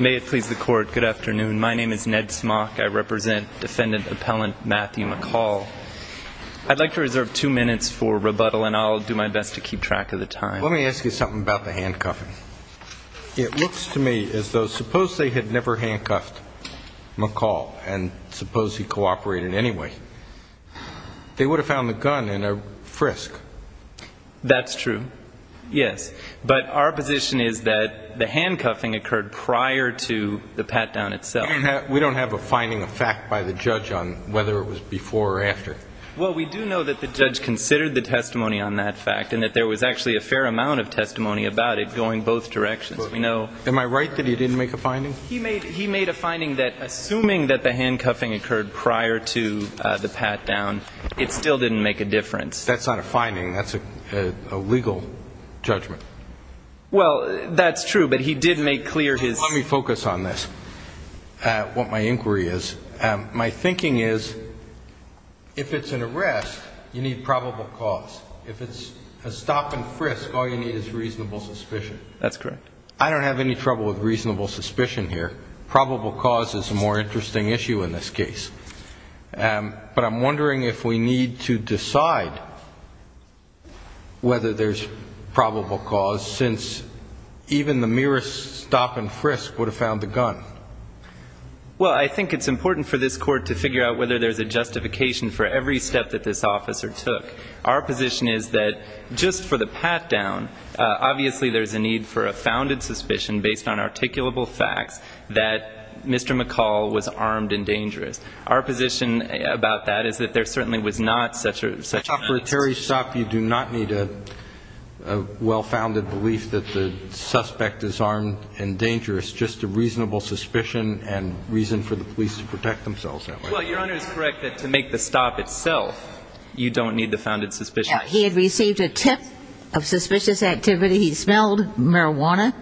May it please the court, good afternoon. My name is Ned Smock. I represent defendant-appellant Matthew McCall. I'd like to reserve two minutes for rebuttal and I'll do my best to keep track of the time. Let me ask you something about the handcuffing. It looks to me as though suppose they had never handcuffed McCall and suppose he cooperated anyway. They would have found the gun in a frisk. That's true. Yes. But our position is that the handcuffing occurred prior to the pat-down itself. We don't have a finding of fact by the judge on whether it was before or after. Well, we do know that the judge considered the testimony on that fact and that there was actually a fair amount of testimony about it going both directions. Am I right that he didn't make a finding? He made a finding that assuming that the handcuffing occurred prior to the pat-down, it still didn't make a difference. That's not a finding. That's a legal judgment. Well, that's true, but he did make clear his... Let me focus on this, what my inquiry is. My thinking is if it's an arrest, you need probable cause. If it's a stop and frisk, all you need is reasonable suspicion. That's correct. I don't have any trouble with reasonable suspicion here. Probable cause is a more interesting issue in this case. But I'm wondering if we need to decide whether there's probable cause since even the merest stop and frisk would have found the gun. Well, I think it's important for this Court to figure out whether there's a justification for every step that this officer took. Our position is that just for the pat-down, obviously there's a need for a founded suspicion based on articulable facts that Mr. McCall was armed and dangerous. Our position about that is that there certainly was not such a... For a Terry stop, you do not need a well-founded belief that the suspect is armed and dangerous. Just a reasonable suspicion and reason for the police to protect themselves that way. Well, Your Honor is correct that to make the stop itself, you don't need the founded suspicion. Now, he had received a tip of suspicious activity. He smelled marijuana.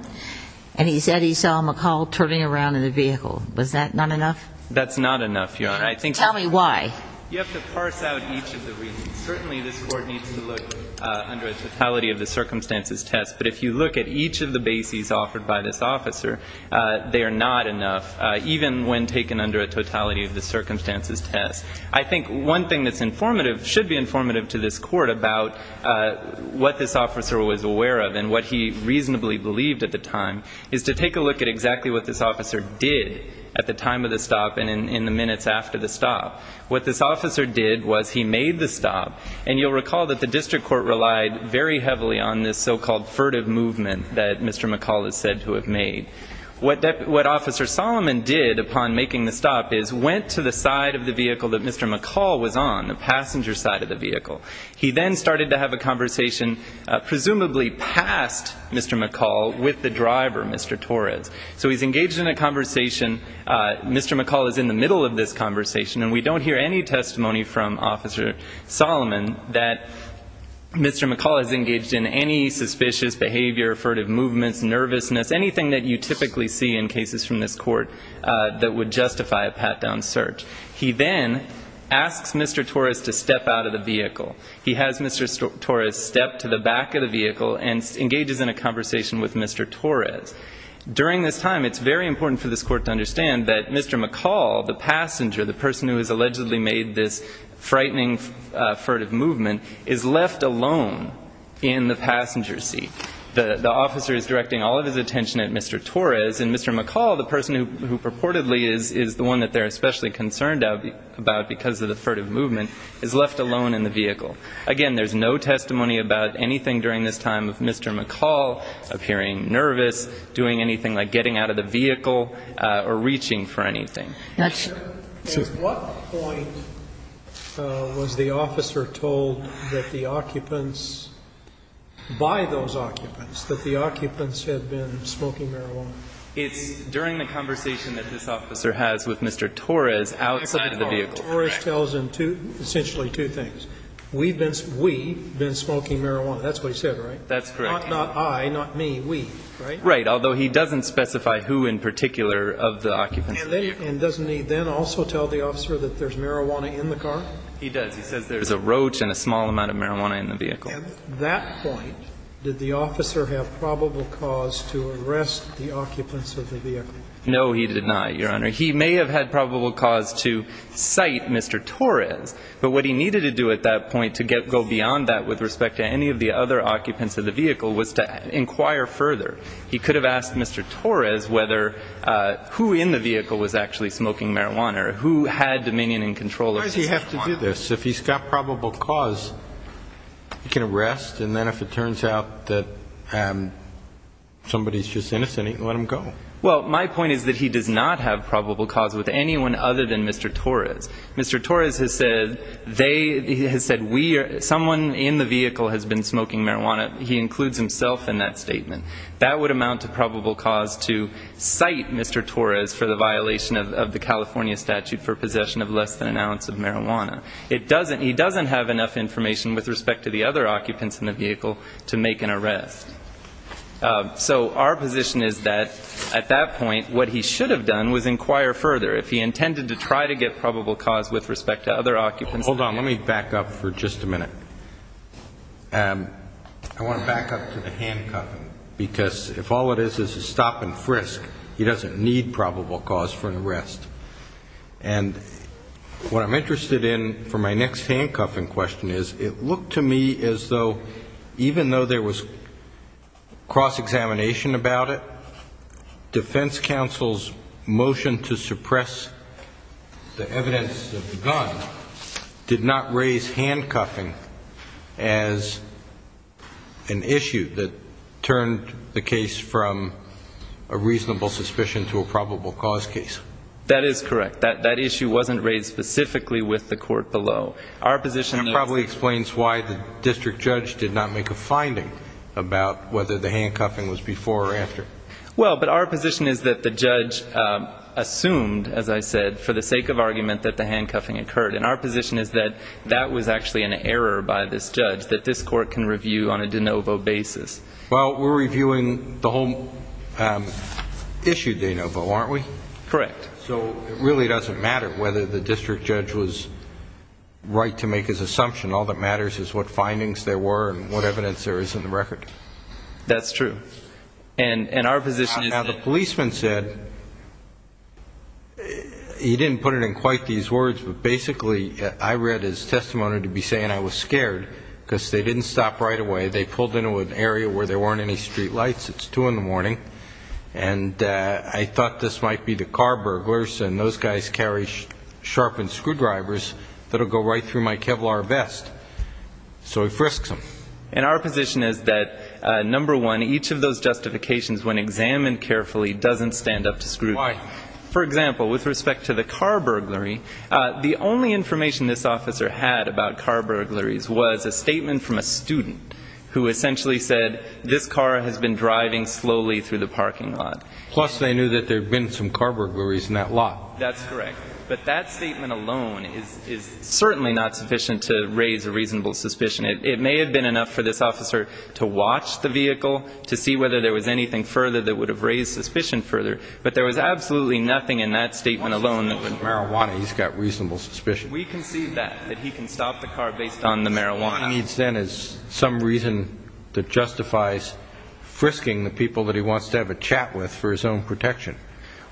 And he said he saw McCall turning around in the vehicle. Was that not enough? That's not enough, Your Honor. I think... Tell me why. You have to parse out each of the reasons. Certainly this Court needs to look under a totality of the circumstances test. But if you look at each of the bases offered by this officer, they are not enough, even when taken under a totality of the circumstances test. I think one thing that's informative, should be informative to this Court about what this officer was aware of and what he reasonably believed at the time, is to take a look at exactly what this officer did at the time of the stop and in the minutes after the stop. What this officer did was he made the stop. And you'll recall that the District Court relied very heavily on this so-called furtive movement that Mr. McCall is said to have made. What Officer Solomon did upon making the stop is went to the side of the vehicle that Mr. McCall was on, the passenger side of the vehicle. He then started to have a conversation, presumably past Mr. McCall, with the driver, Mr. Torres. So he's engaged in a conversation. Mr. McCall is in the middle of this conversation. And we don't hear any testimony from Officer Solomon that Mr. McCall has engaged in any suspicious behavior, furtive movements, nervousness, anything that you typically see in cases from this Court that would justify a pat-down search. He then asks Mr. Torres to step out of the vehicle. He has Mr. Torres step to the back of the vehicle and engages in a conversation with Mr. Torres. During this time, it's very important for this Court to understand that Mr. McCall, the passenger, the person who has allegedly made this frightening furtive movement, is left alone in the passenger seat. The officer is directing all of his attention at Mr. Torres. And Mr. McCall, the person who purportedly is the one that they're especially concerned about because of the furtive movement, is left alone in the vehicle. Again, there's no testimony about anything during this time of Mr. McCall appearing nervous, doing anything like getting out of the vehicle, or reaching for anything. At what point was the officer told that the occupants, by those occupants, that the occupants had been smoking marijuana? It's during the conversation that this officer has with Mr. Torres outside of the vehicle. Mr. Torres tells him essentially two things. We've been smoking marijuana. That's what he said, right? That's correct. Not I, not me, we, right? Right, although he doesn't specify who in particular of the occupants. And doesn't he then also tell the officer that there's marijuana in the car? He does. He says there's a roach and a small amount of marijuana in the vehicle. At that point, did the officer have probable cause to arrest the occupants of the vehicle? No, he did not, Your Honor. He may have had probable cause to cite Mr. Torres, but what he needed to do at that point to go beyond that with respect to any of the other occupants of the vehicle was to inquire further. He could have asked Mr. Torres whether who in the vehicle was actually smoking marijuana or who had dominion and control over the marijuana. Why does he have to do this? If he's got probable cause, he can arrest, and then if it turns out that somebody's just innocent, he can let them go. Well, my point is that he does not have probable cause with anyone other than Mr. Torres. Mr. Torres has said they, he has said we are, someone in the vehicle has been smoking marijuana. He includes himself in that statement. That would amount to probable cause to cite Mr. Torres for the violation of the California statute for possession of less than an ounce of marijuana. It doesn't, he doesn't have enough information with respect to the other occupants in the vehicle to make an arrest. So our position is that at that point, what he should have done was inquire further. If he intended to try to get probable cause with respect to other occupants. Hold on, let me back up for just a minute. I want to back up to the handcuffing, because if all it is is a stop and frisk, he doesn't need probable cause for an arrest. And what I'm interested in for my next handcuffing question is, it looked to me as though even though there was cross-examination about it, defense counsel's motion to suppress the evidence of the gun did not raise handcuffing as an issue that turned the case from a reasonable suspicion to a probable cause case. That is correct. That issue wasn't raised specifically with the court below. That probably explains why the district judge did not make a finding about whether the handcuffing was before or after. Well, but our position is that the judge assumed, as I said, for the sake of argument that the handcuffing occurred. And our position is that that was actually an error by this judge, that this court can review on a de novo basis. Well, we're reviewing the whole issue de novo, aren't we? Correct. So it really doesn't matter whether the district judge was right to make his assumption. All that matters is what findings there were and what evidence there is in the record. That's true. And our position is that the policeman said, he didn't put it in quite these words, but basically I read his testimony to be saying I was scared, because they didn't stop right away. They pulled into an area where there weren't any street lights. It's 2 in the morning. And I thought this might be the car burglars, and those guys carry sharpened screwdrivers that will go right through my Kevlar vest. So he frisks them. And our position is that, number one, each of those justifications, when examined carefully, doesn't stand up to scrutiny. Why? For example, with respect to the car burglary, the only information this officer had about car burglaries was a statement from a student who essentially said, this car has been driving slowly through the parking lot. Plus, they knew that there had been some car burglaries in that lot. That's correct. But that statement alone is certainly not sufficient to raise a reasonable suspicion. It may have been enough for this officer to watch the vehicle to see whether there was anything further that would have raised suspicion further. But there was absolutely nothing in that statement alone that would. Marijuana, he's got reasonable suspicion. We can see that, that he can stop the car based on the marijuana. What he needs then is some reason that justifies frisking the people that he wants to have a chat with for his own protection.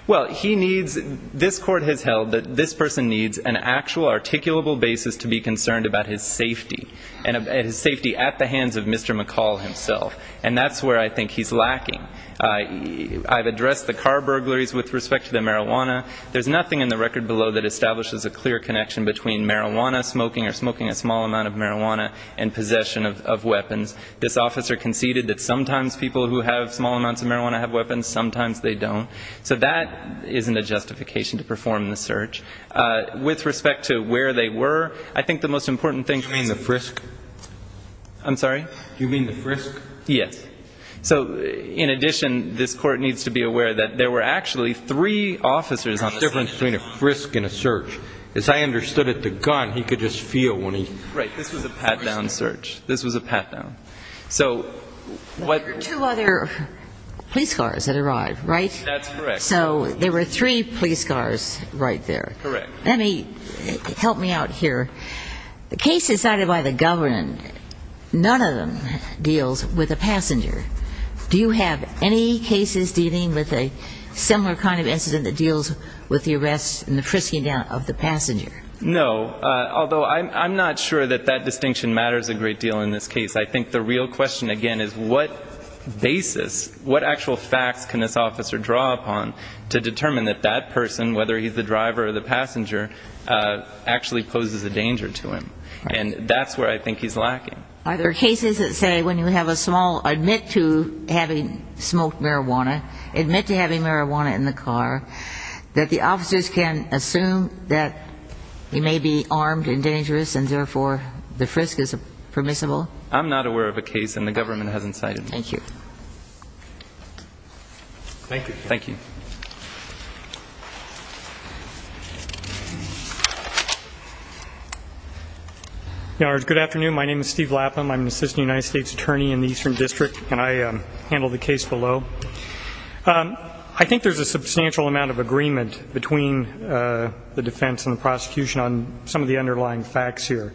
Well, he needs, this court has held that this person needs an actual articulable basis to be concerned about his safety, and his safety at the hands of Mr. McCall himself. And that's where I think he's lacking. I've addressed the car burglaries with respect to the marijuana. There's nothing in the record below that establishes a clear connection between marijuana smoking or smoking a small amount of marijuana and possession of weapons. This officer conceded that sometimes people who have small amounts of marijuana have weapons, sometimes they don't. So that isn't a justification to perform the search. With respect to where they were, I think the most important thing. You mean the frisk? I'm sorry? You mean the frisk? Yes. So in addition, this court needs to be aware that there were actually three officers on the difference between a frisk and a search. As I understood it, the gun, he could just feel when he. Right. This was a pat-down search. This was a pat-down. There were two other police cars that arrived, right? That's correct. So there were three police cars right there. Correct. Let me, help me out here. The case decided by the government, none of them deals with a passenger. Do you have any cases dealing with a similar kind of incident that deals with the arrest and the frisking down of the passenger? No, although I'm not sure that that distinction matters a great deal in this case. I think the real question, again, is what basis, what actual facts can this officer draw upon to determine that that person, whether he's the driver or the passenger, actually poses a danger to him? And that's where I think he's lacking. Are there cases that say when you have a small, admit to having smoked marijuana, admit to having marijuana in the car, that the officers can assume that he may be armed and dangerous, and therefore the frisk is permissible? I'm not aware of a case, and the government hasn't cited me. Thank you. Thank you. Thank you. Good afternoon. My name is Steve Laplam. I'm an assistant United States attorney in the Eastern District, and I handle the case below. I think there's a substantial amount of agreement between the defense and the prosecution on some of the underlying facts here.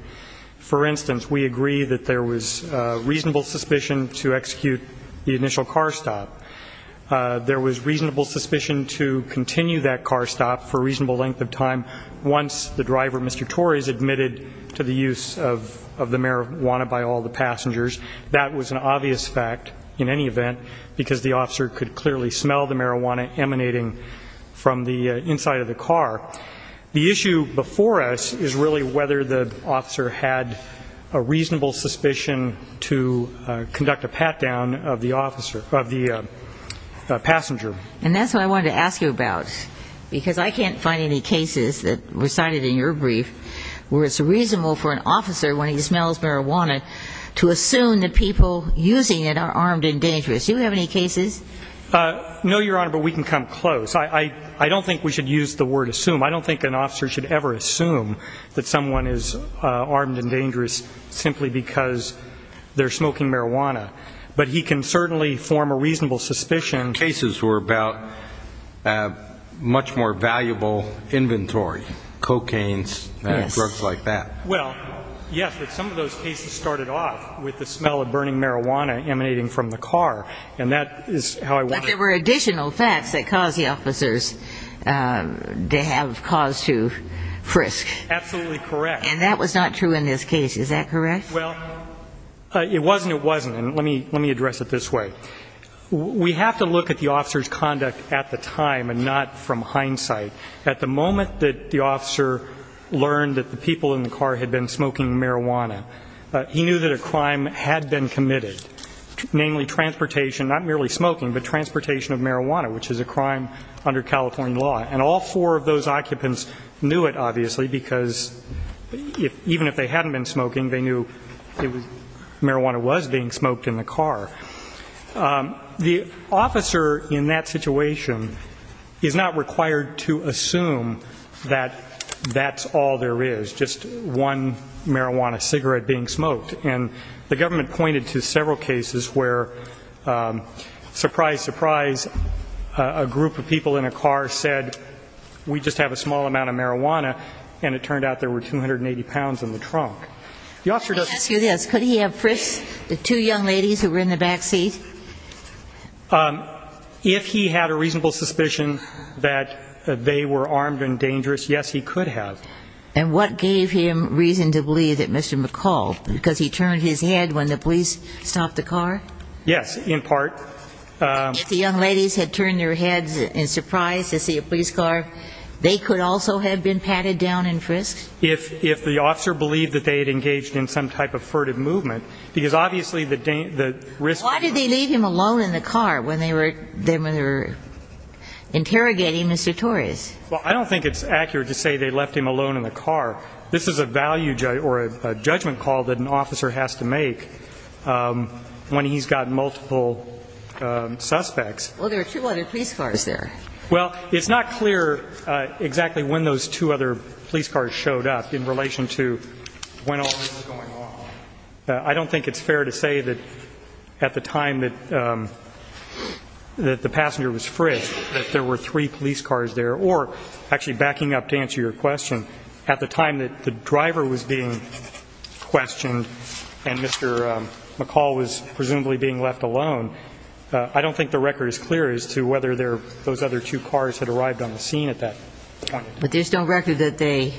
For instance, we agree that there was reasonable suspicion to execute the initial car stop. There was reasonable suspicion to continue that car stop for a reasonable length of time once the driver, Mr. Torres, admitted to the use of the marijuana by all the passengers. That was an obvious fact in any event, because the officer could clearly smell the marijuana emanating from the inside of the car. The issue before us is really whether the officer had a reasonable suspicion to conduct a pat-down of the passenger. And that's what I wanted to ask you about, because I can't find any cases that were cited in your brief where it's reasonable for an officer, when he smells marijuana, to assume that people using it are armed and dangerous. Do you have any cases? No, Your Honor, but we can come close. I don't think we should use the word assume. They're smoking marijuana, but he can certainly form a reasonable suspicion. Cases were about a much more valuable inventory, cocaines and drugs like that. Well, yes, but some of those cases started off with the smell of burning marijuana emanating from the car, and that is how I want to. But there were additional facts that caused the officers to have cause to frisk. Absolutely correct. And that was not true in this case, is that correct? Well, it wasn't, it wasn't, and let me address it this way. We have to look at the officer's conduct at the time and not from hindsight. At the moment that the officer learned that the people in the car had been smoking marijuana, he knew that a crime had been committed, namely transportation, not merely smoking, but transportation of marijuana, which is a crime under California law. And all four of those occupants knew it, obviously, because even if they hadn't been smoking, they knew marijuana was being smoked in the car. The officer in that situation is not required to assume that that's all there is, just one marijuana cigarette being smoked. And the government pointed to several cases where, surprise, surprise, a group of people in a car said, we just have a small amount of marijuana, and it turned out there were 280 pounds in the trunk. Let me ask you this. Could he have frisked the two young ladies who were in the back seat? If he had a reasonable suspicion that they were armed and dangerous, yes, he could have. And what gave him reason to believe that Mr. McCall, because he turned his head when the police stopped the car? Yes, in part. If the young ladies had turned their heads in surprise to see a police car, they could also have been patted down and frisked? If the officer believed that they had engaged in some type of furtive movement, because obviously the risk of that was... Why did they leave him alone in the car when they were interrogating Mr. Torres? Well, I don't think it's accurate to say they left him alone in the car. This is a value or a judgment call that an officer has to make when he's got multiple suspects. Well, there are two other police cars there. Well, it's not clear exactly when those two other police cars showed up in relation to when all this was going on. I don't think it's fair to say that at the time that the passenger was frisked that there were three police cars there or actually backing up to answer your question, at the time that the driver was being questioned and Mr. McCall was presumably being left alone, I don't think the record is clear as to whether those other two cars had arrived on the scene at that point. But there's no record that they...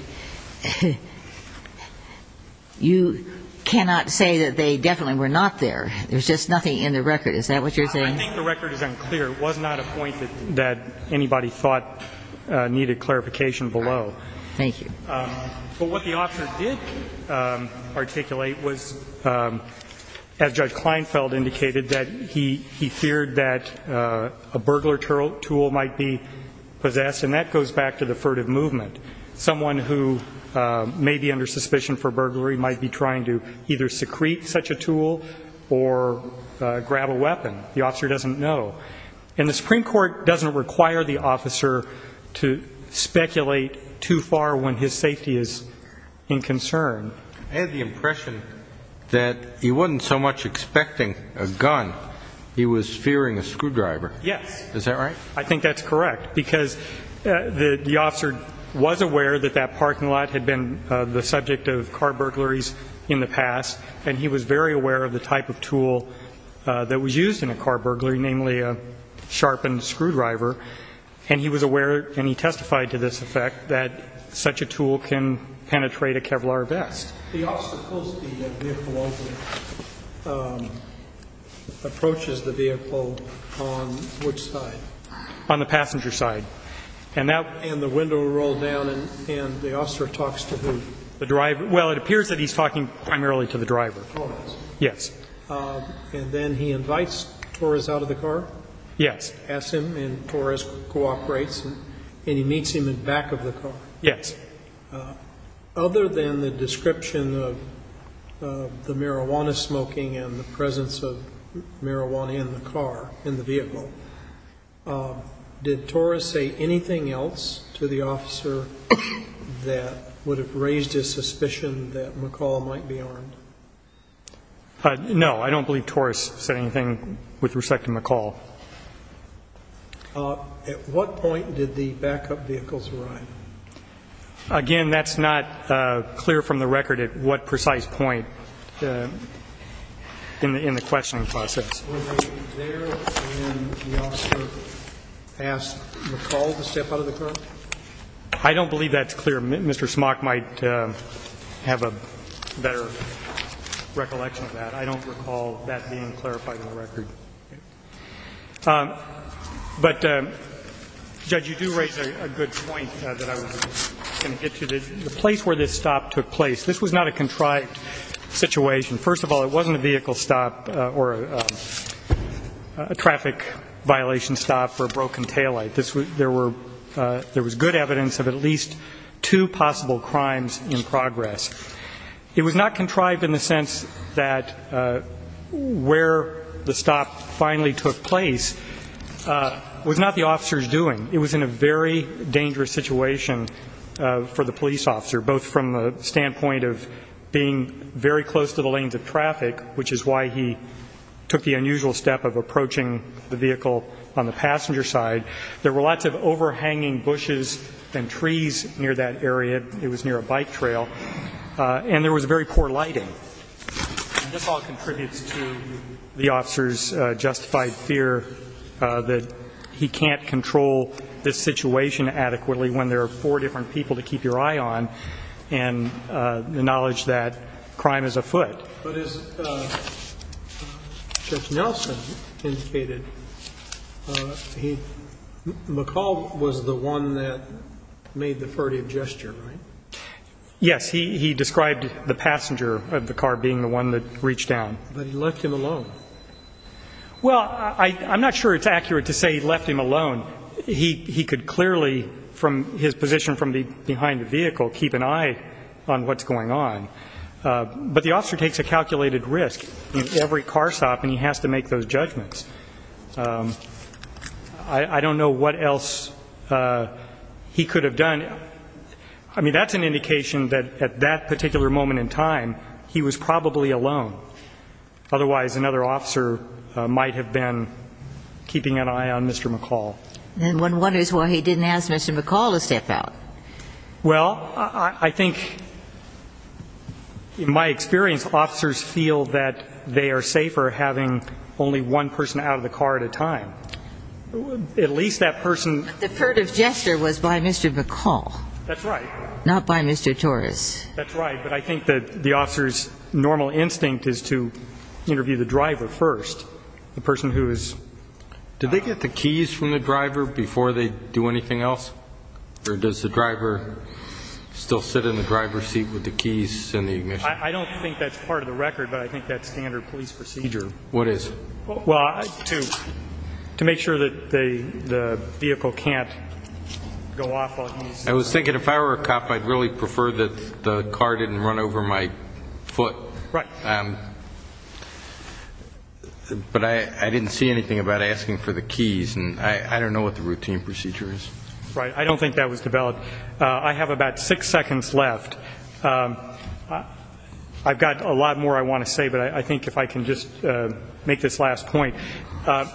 You cannot say that they definitely were not there. There's just nothing in the record. Is that what you're saying? I think the record is unclear. It was not a point that anybody thought needed clarification below. Thank you. But what the officer did articulate was, as Judge Kleinfeld indicated, that he feared that a burglar tool might be possessed, and that goes back to the furtive movement. Someone who may be under suspicion for burglary might be trying to either secrete such a tool or grab a weapon. The officer doesn't know. And the Supreme Court doesn't require the officer to speculate too far when his safety is in concern. I had the impression that he wasn't so much expecting a gun, he was fearing a screwdriver. Yes. Is that right? I think that's correct because the officer was aware that that parking lot had been the subject of car burglaries in the past, and he was very aware of the type of tool that was used in a car burglary, namely a sharpened screwdriver. And he was aware, and he testified to this effect, that such a tool can penetrate a Kevlar vest. The officer pulls the vehicle over, approaches the vehicle on which side? On the passenger side. And the window rolled down, and the officer talks to who? The driver. Well, it appears that he's talking primarily to the driver. Torres. Yes. And then he invites Torres out of the car? Yes. Asks him, and Torres cooperates, and he meets him in back of the car? Yes. Other than the description of the marijuana smoking and the presence of marijuana in the car, in the vehicle, did Torres say anything else to the officer that would have raised his suspicion that McCall might be armed? No. I don't believe Torres said anything with respect to McCall. At what point did the backup vehicles arrive? Again, that's not clear from the record at what precise point in the questioning process. Were they there when the officer asked McCall to step out of the car? I don't believe that's clear. Mr. Smock might have a better recollection of that. I don't recall that being clarified in the record. But, Judge, you do raise a good point that I was going to get to. The place where this stop took place, this was not a contrived situation. First of all, it wasn't a vehicle stop or a traffic violation stop for a broken taillight. There was good evidence of at least two possible crimes in progress. It was not contrived in the sense that where the stop finally took place was not the officer's doing. It was in a very dangerous situation for the police officer, both from the standpoint of being very close to the lanes of traffic, which is why he took the unusual step of approaching the vehicle on the passenger side. There were lots of overhanging bushes and trees near that area. It was near a bike trail. And there was very poor lighting. And this all contributes to the officer's justified fear that he can't control this situation adequately when there are four different people to keep your eye on and the knowledge that crime is afoot. But as Judge Nelson indicated, McCall was the one that made the furtive gesture, right? Yes, he described the passenger of the car being the one that reached down. But he left him alone. Well, I'm not sure it's accurate to say he left him alone. He could clearly, from his position from behind the vehicle, keep an eye on what's going on. But the officer takes a calculated risk in every car stop, and he has to make those judgments. I don't know what else he could have done. I mean, that's an indication that at that particular moment in time, he was probably alone. Otherwise, another officer might have been keeping an eye on Mr. McCall. Then one wonders why he didn't ask Mr. McCall to step out. Well, I think in my experience, officers feel that they are safer having only one person out of the car at a time. At least that person ---- The furtive gesture was by Mr. McCall. That's right. Not by Mr. Torres. That's right. But I think that the officer's normal instinct is to interview the driver first, the person who is ---- Do they get the keys from the driver before they do anything else? Or does the driver still sit in the driver's seat with the keys and the ignition? I don't think that's part of the record, but I think that's standard police procedure. What is? Well, to make sure that the vehicle can't go off while he's ---- I was thinking if I were a cop, I'd really prefer that the car didn't run over my foot. Right. But I didn't see anything about asking for the keys, and I don't know what the routine procedure is. Right. I don't think that was developed. I have about six seconds left. I've got a lot more I want to say, but I think if I can just make this last point. I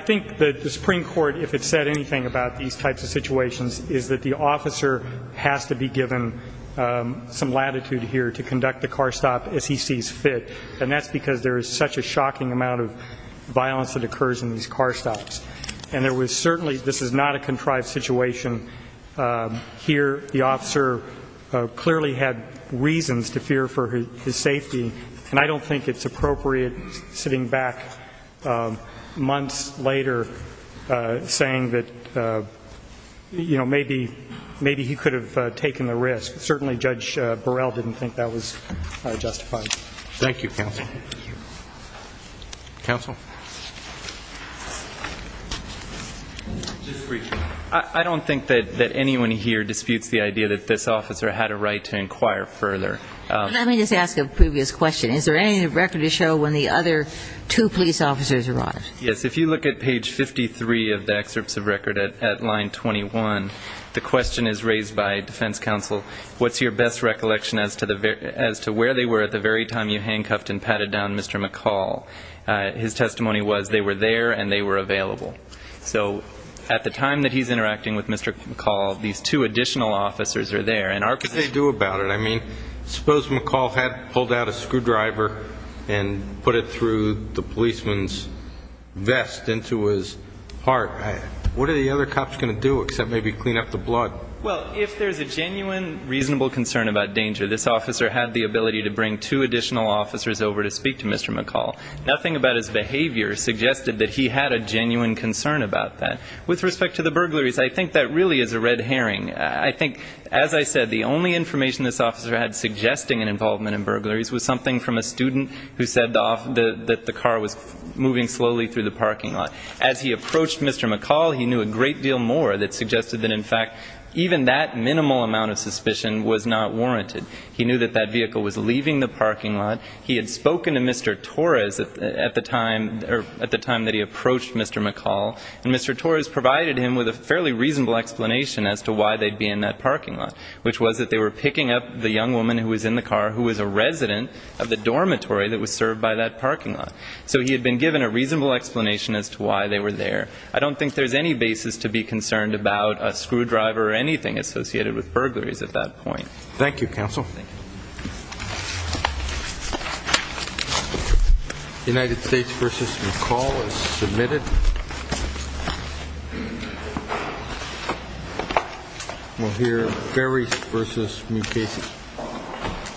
think that the Supreme Court, if it said anything about these types of situations, is that the officer has to be given some latitude here to conduct the car stop as he sees fit, and that's because there is such a shocking amount of violence that occurs in these car stops. And there was certainly ---- this is not a contrived situation. Here the officer clearly had reasons to fear for his safety, and I don't think it's appropriate sitting back months later saying that, you know, maybe he could have taken the risk. Certainly Judge Burrell didn't think that was justified. Thank you, counsel. Counsel. I don't think that anyone here disputes the idea that this officer had a right to inquire further. Let me just ask a previous question. Is there any record to show when the other two police officers arrived? Yes. If you look at page 53 of the excerpts of record at line 21, the question is raised by defense counsel, what's your best recollection as to where they were at the very time you handcuffed and patted down Mr. McCall? His testimony was they were there and they were available. So at the time that he's interacting with Mr. McCall, these two additional officers are there. What could they do about it? I mean, suppose McCall had pulled out a screwdriver and put it through the policeman's vest into his heart. What are the other cops going to do except maybe clean up the blood? Well, if there's a genuine reasonable concern about danger, this officer had the ability to bring two additional officers over to speak to Mr. McCall. Nothing about his behavior suggested that he had a genuine concern about that. With respect to the burglaries, I think that really is a red herring. I think, as I said, the only information this officer had suggesting an involvement in burglaries was something from a student who said that the car was moving slowly through the parking lot. As he approached Mr. McCall, he knew a great deal more that suggested that, in fact, even that minimal amount of suspicion was not warranted. He knew that that vehicle was leaving the parking lot. He had spoken to Mr. Torres at the time that he approached Mr. McCall, and Mr. Torres provided him with a fairly reasonable explanation as to why they'd be in that parking lot, which was that they were picking up the young woman who was in the car who was a resident of the dormitory that was served by that parking lot. So he had been given a reasonable explanation as to why they were there. I don't think there's any basis to be concerned about a screwdriver or anything associated with burglaries at that point. Thank you, Counsel. The United States v. McCall is submitted. We'll hear Ferris v. Mukasey.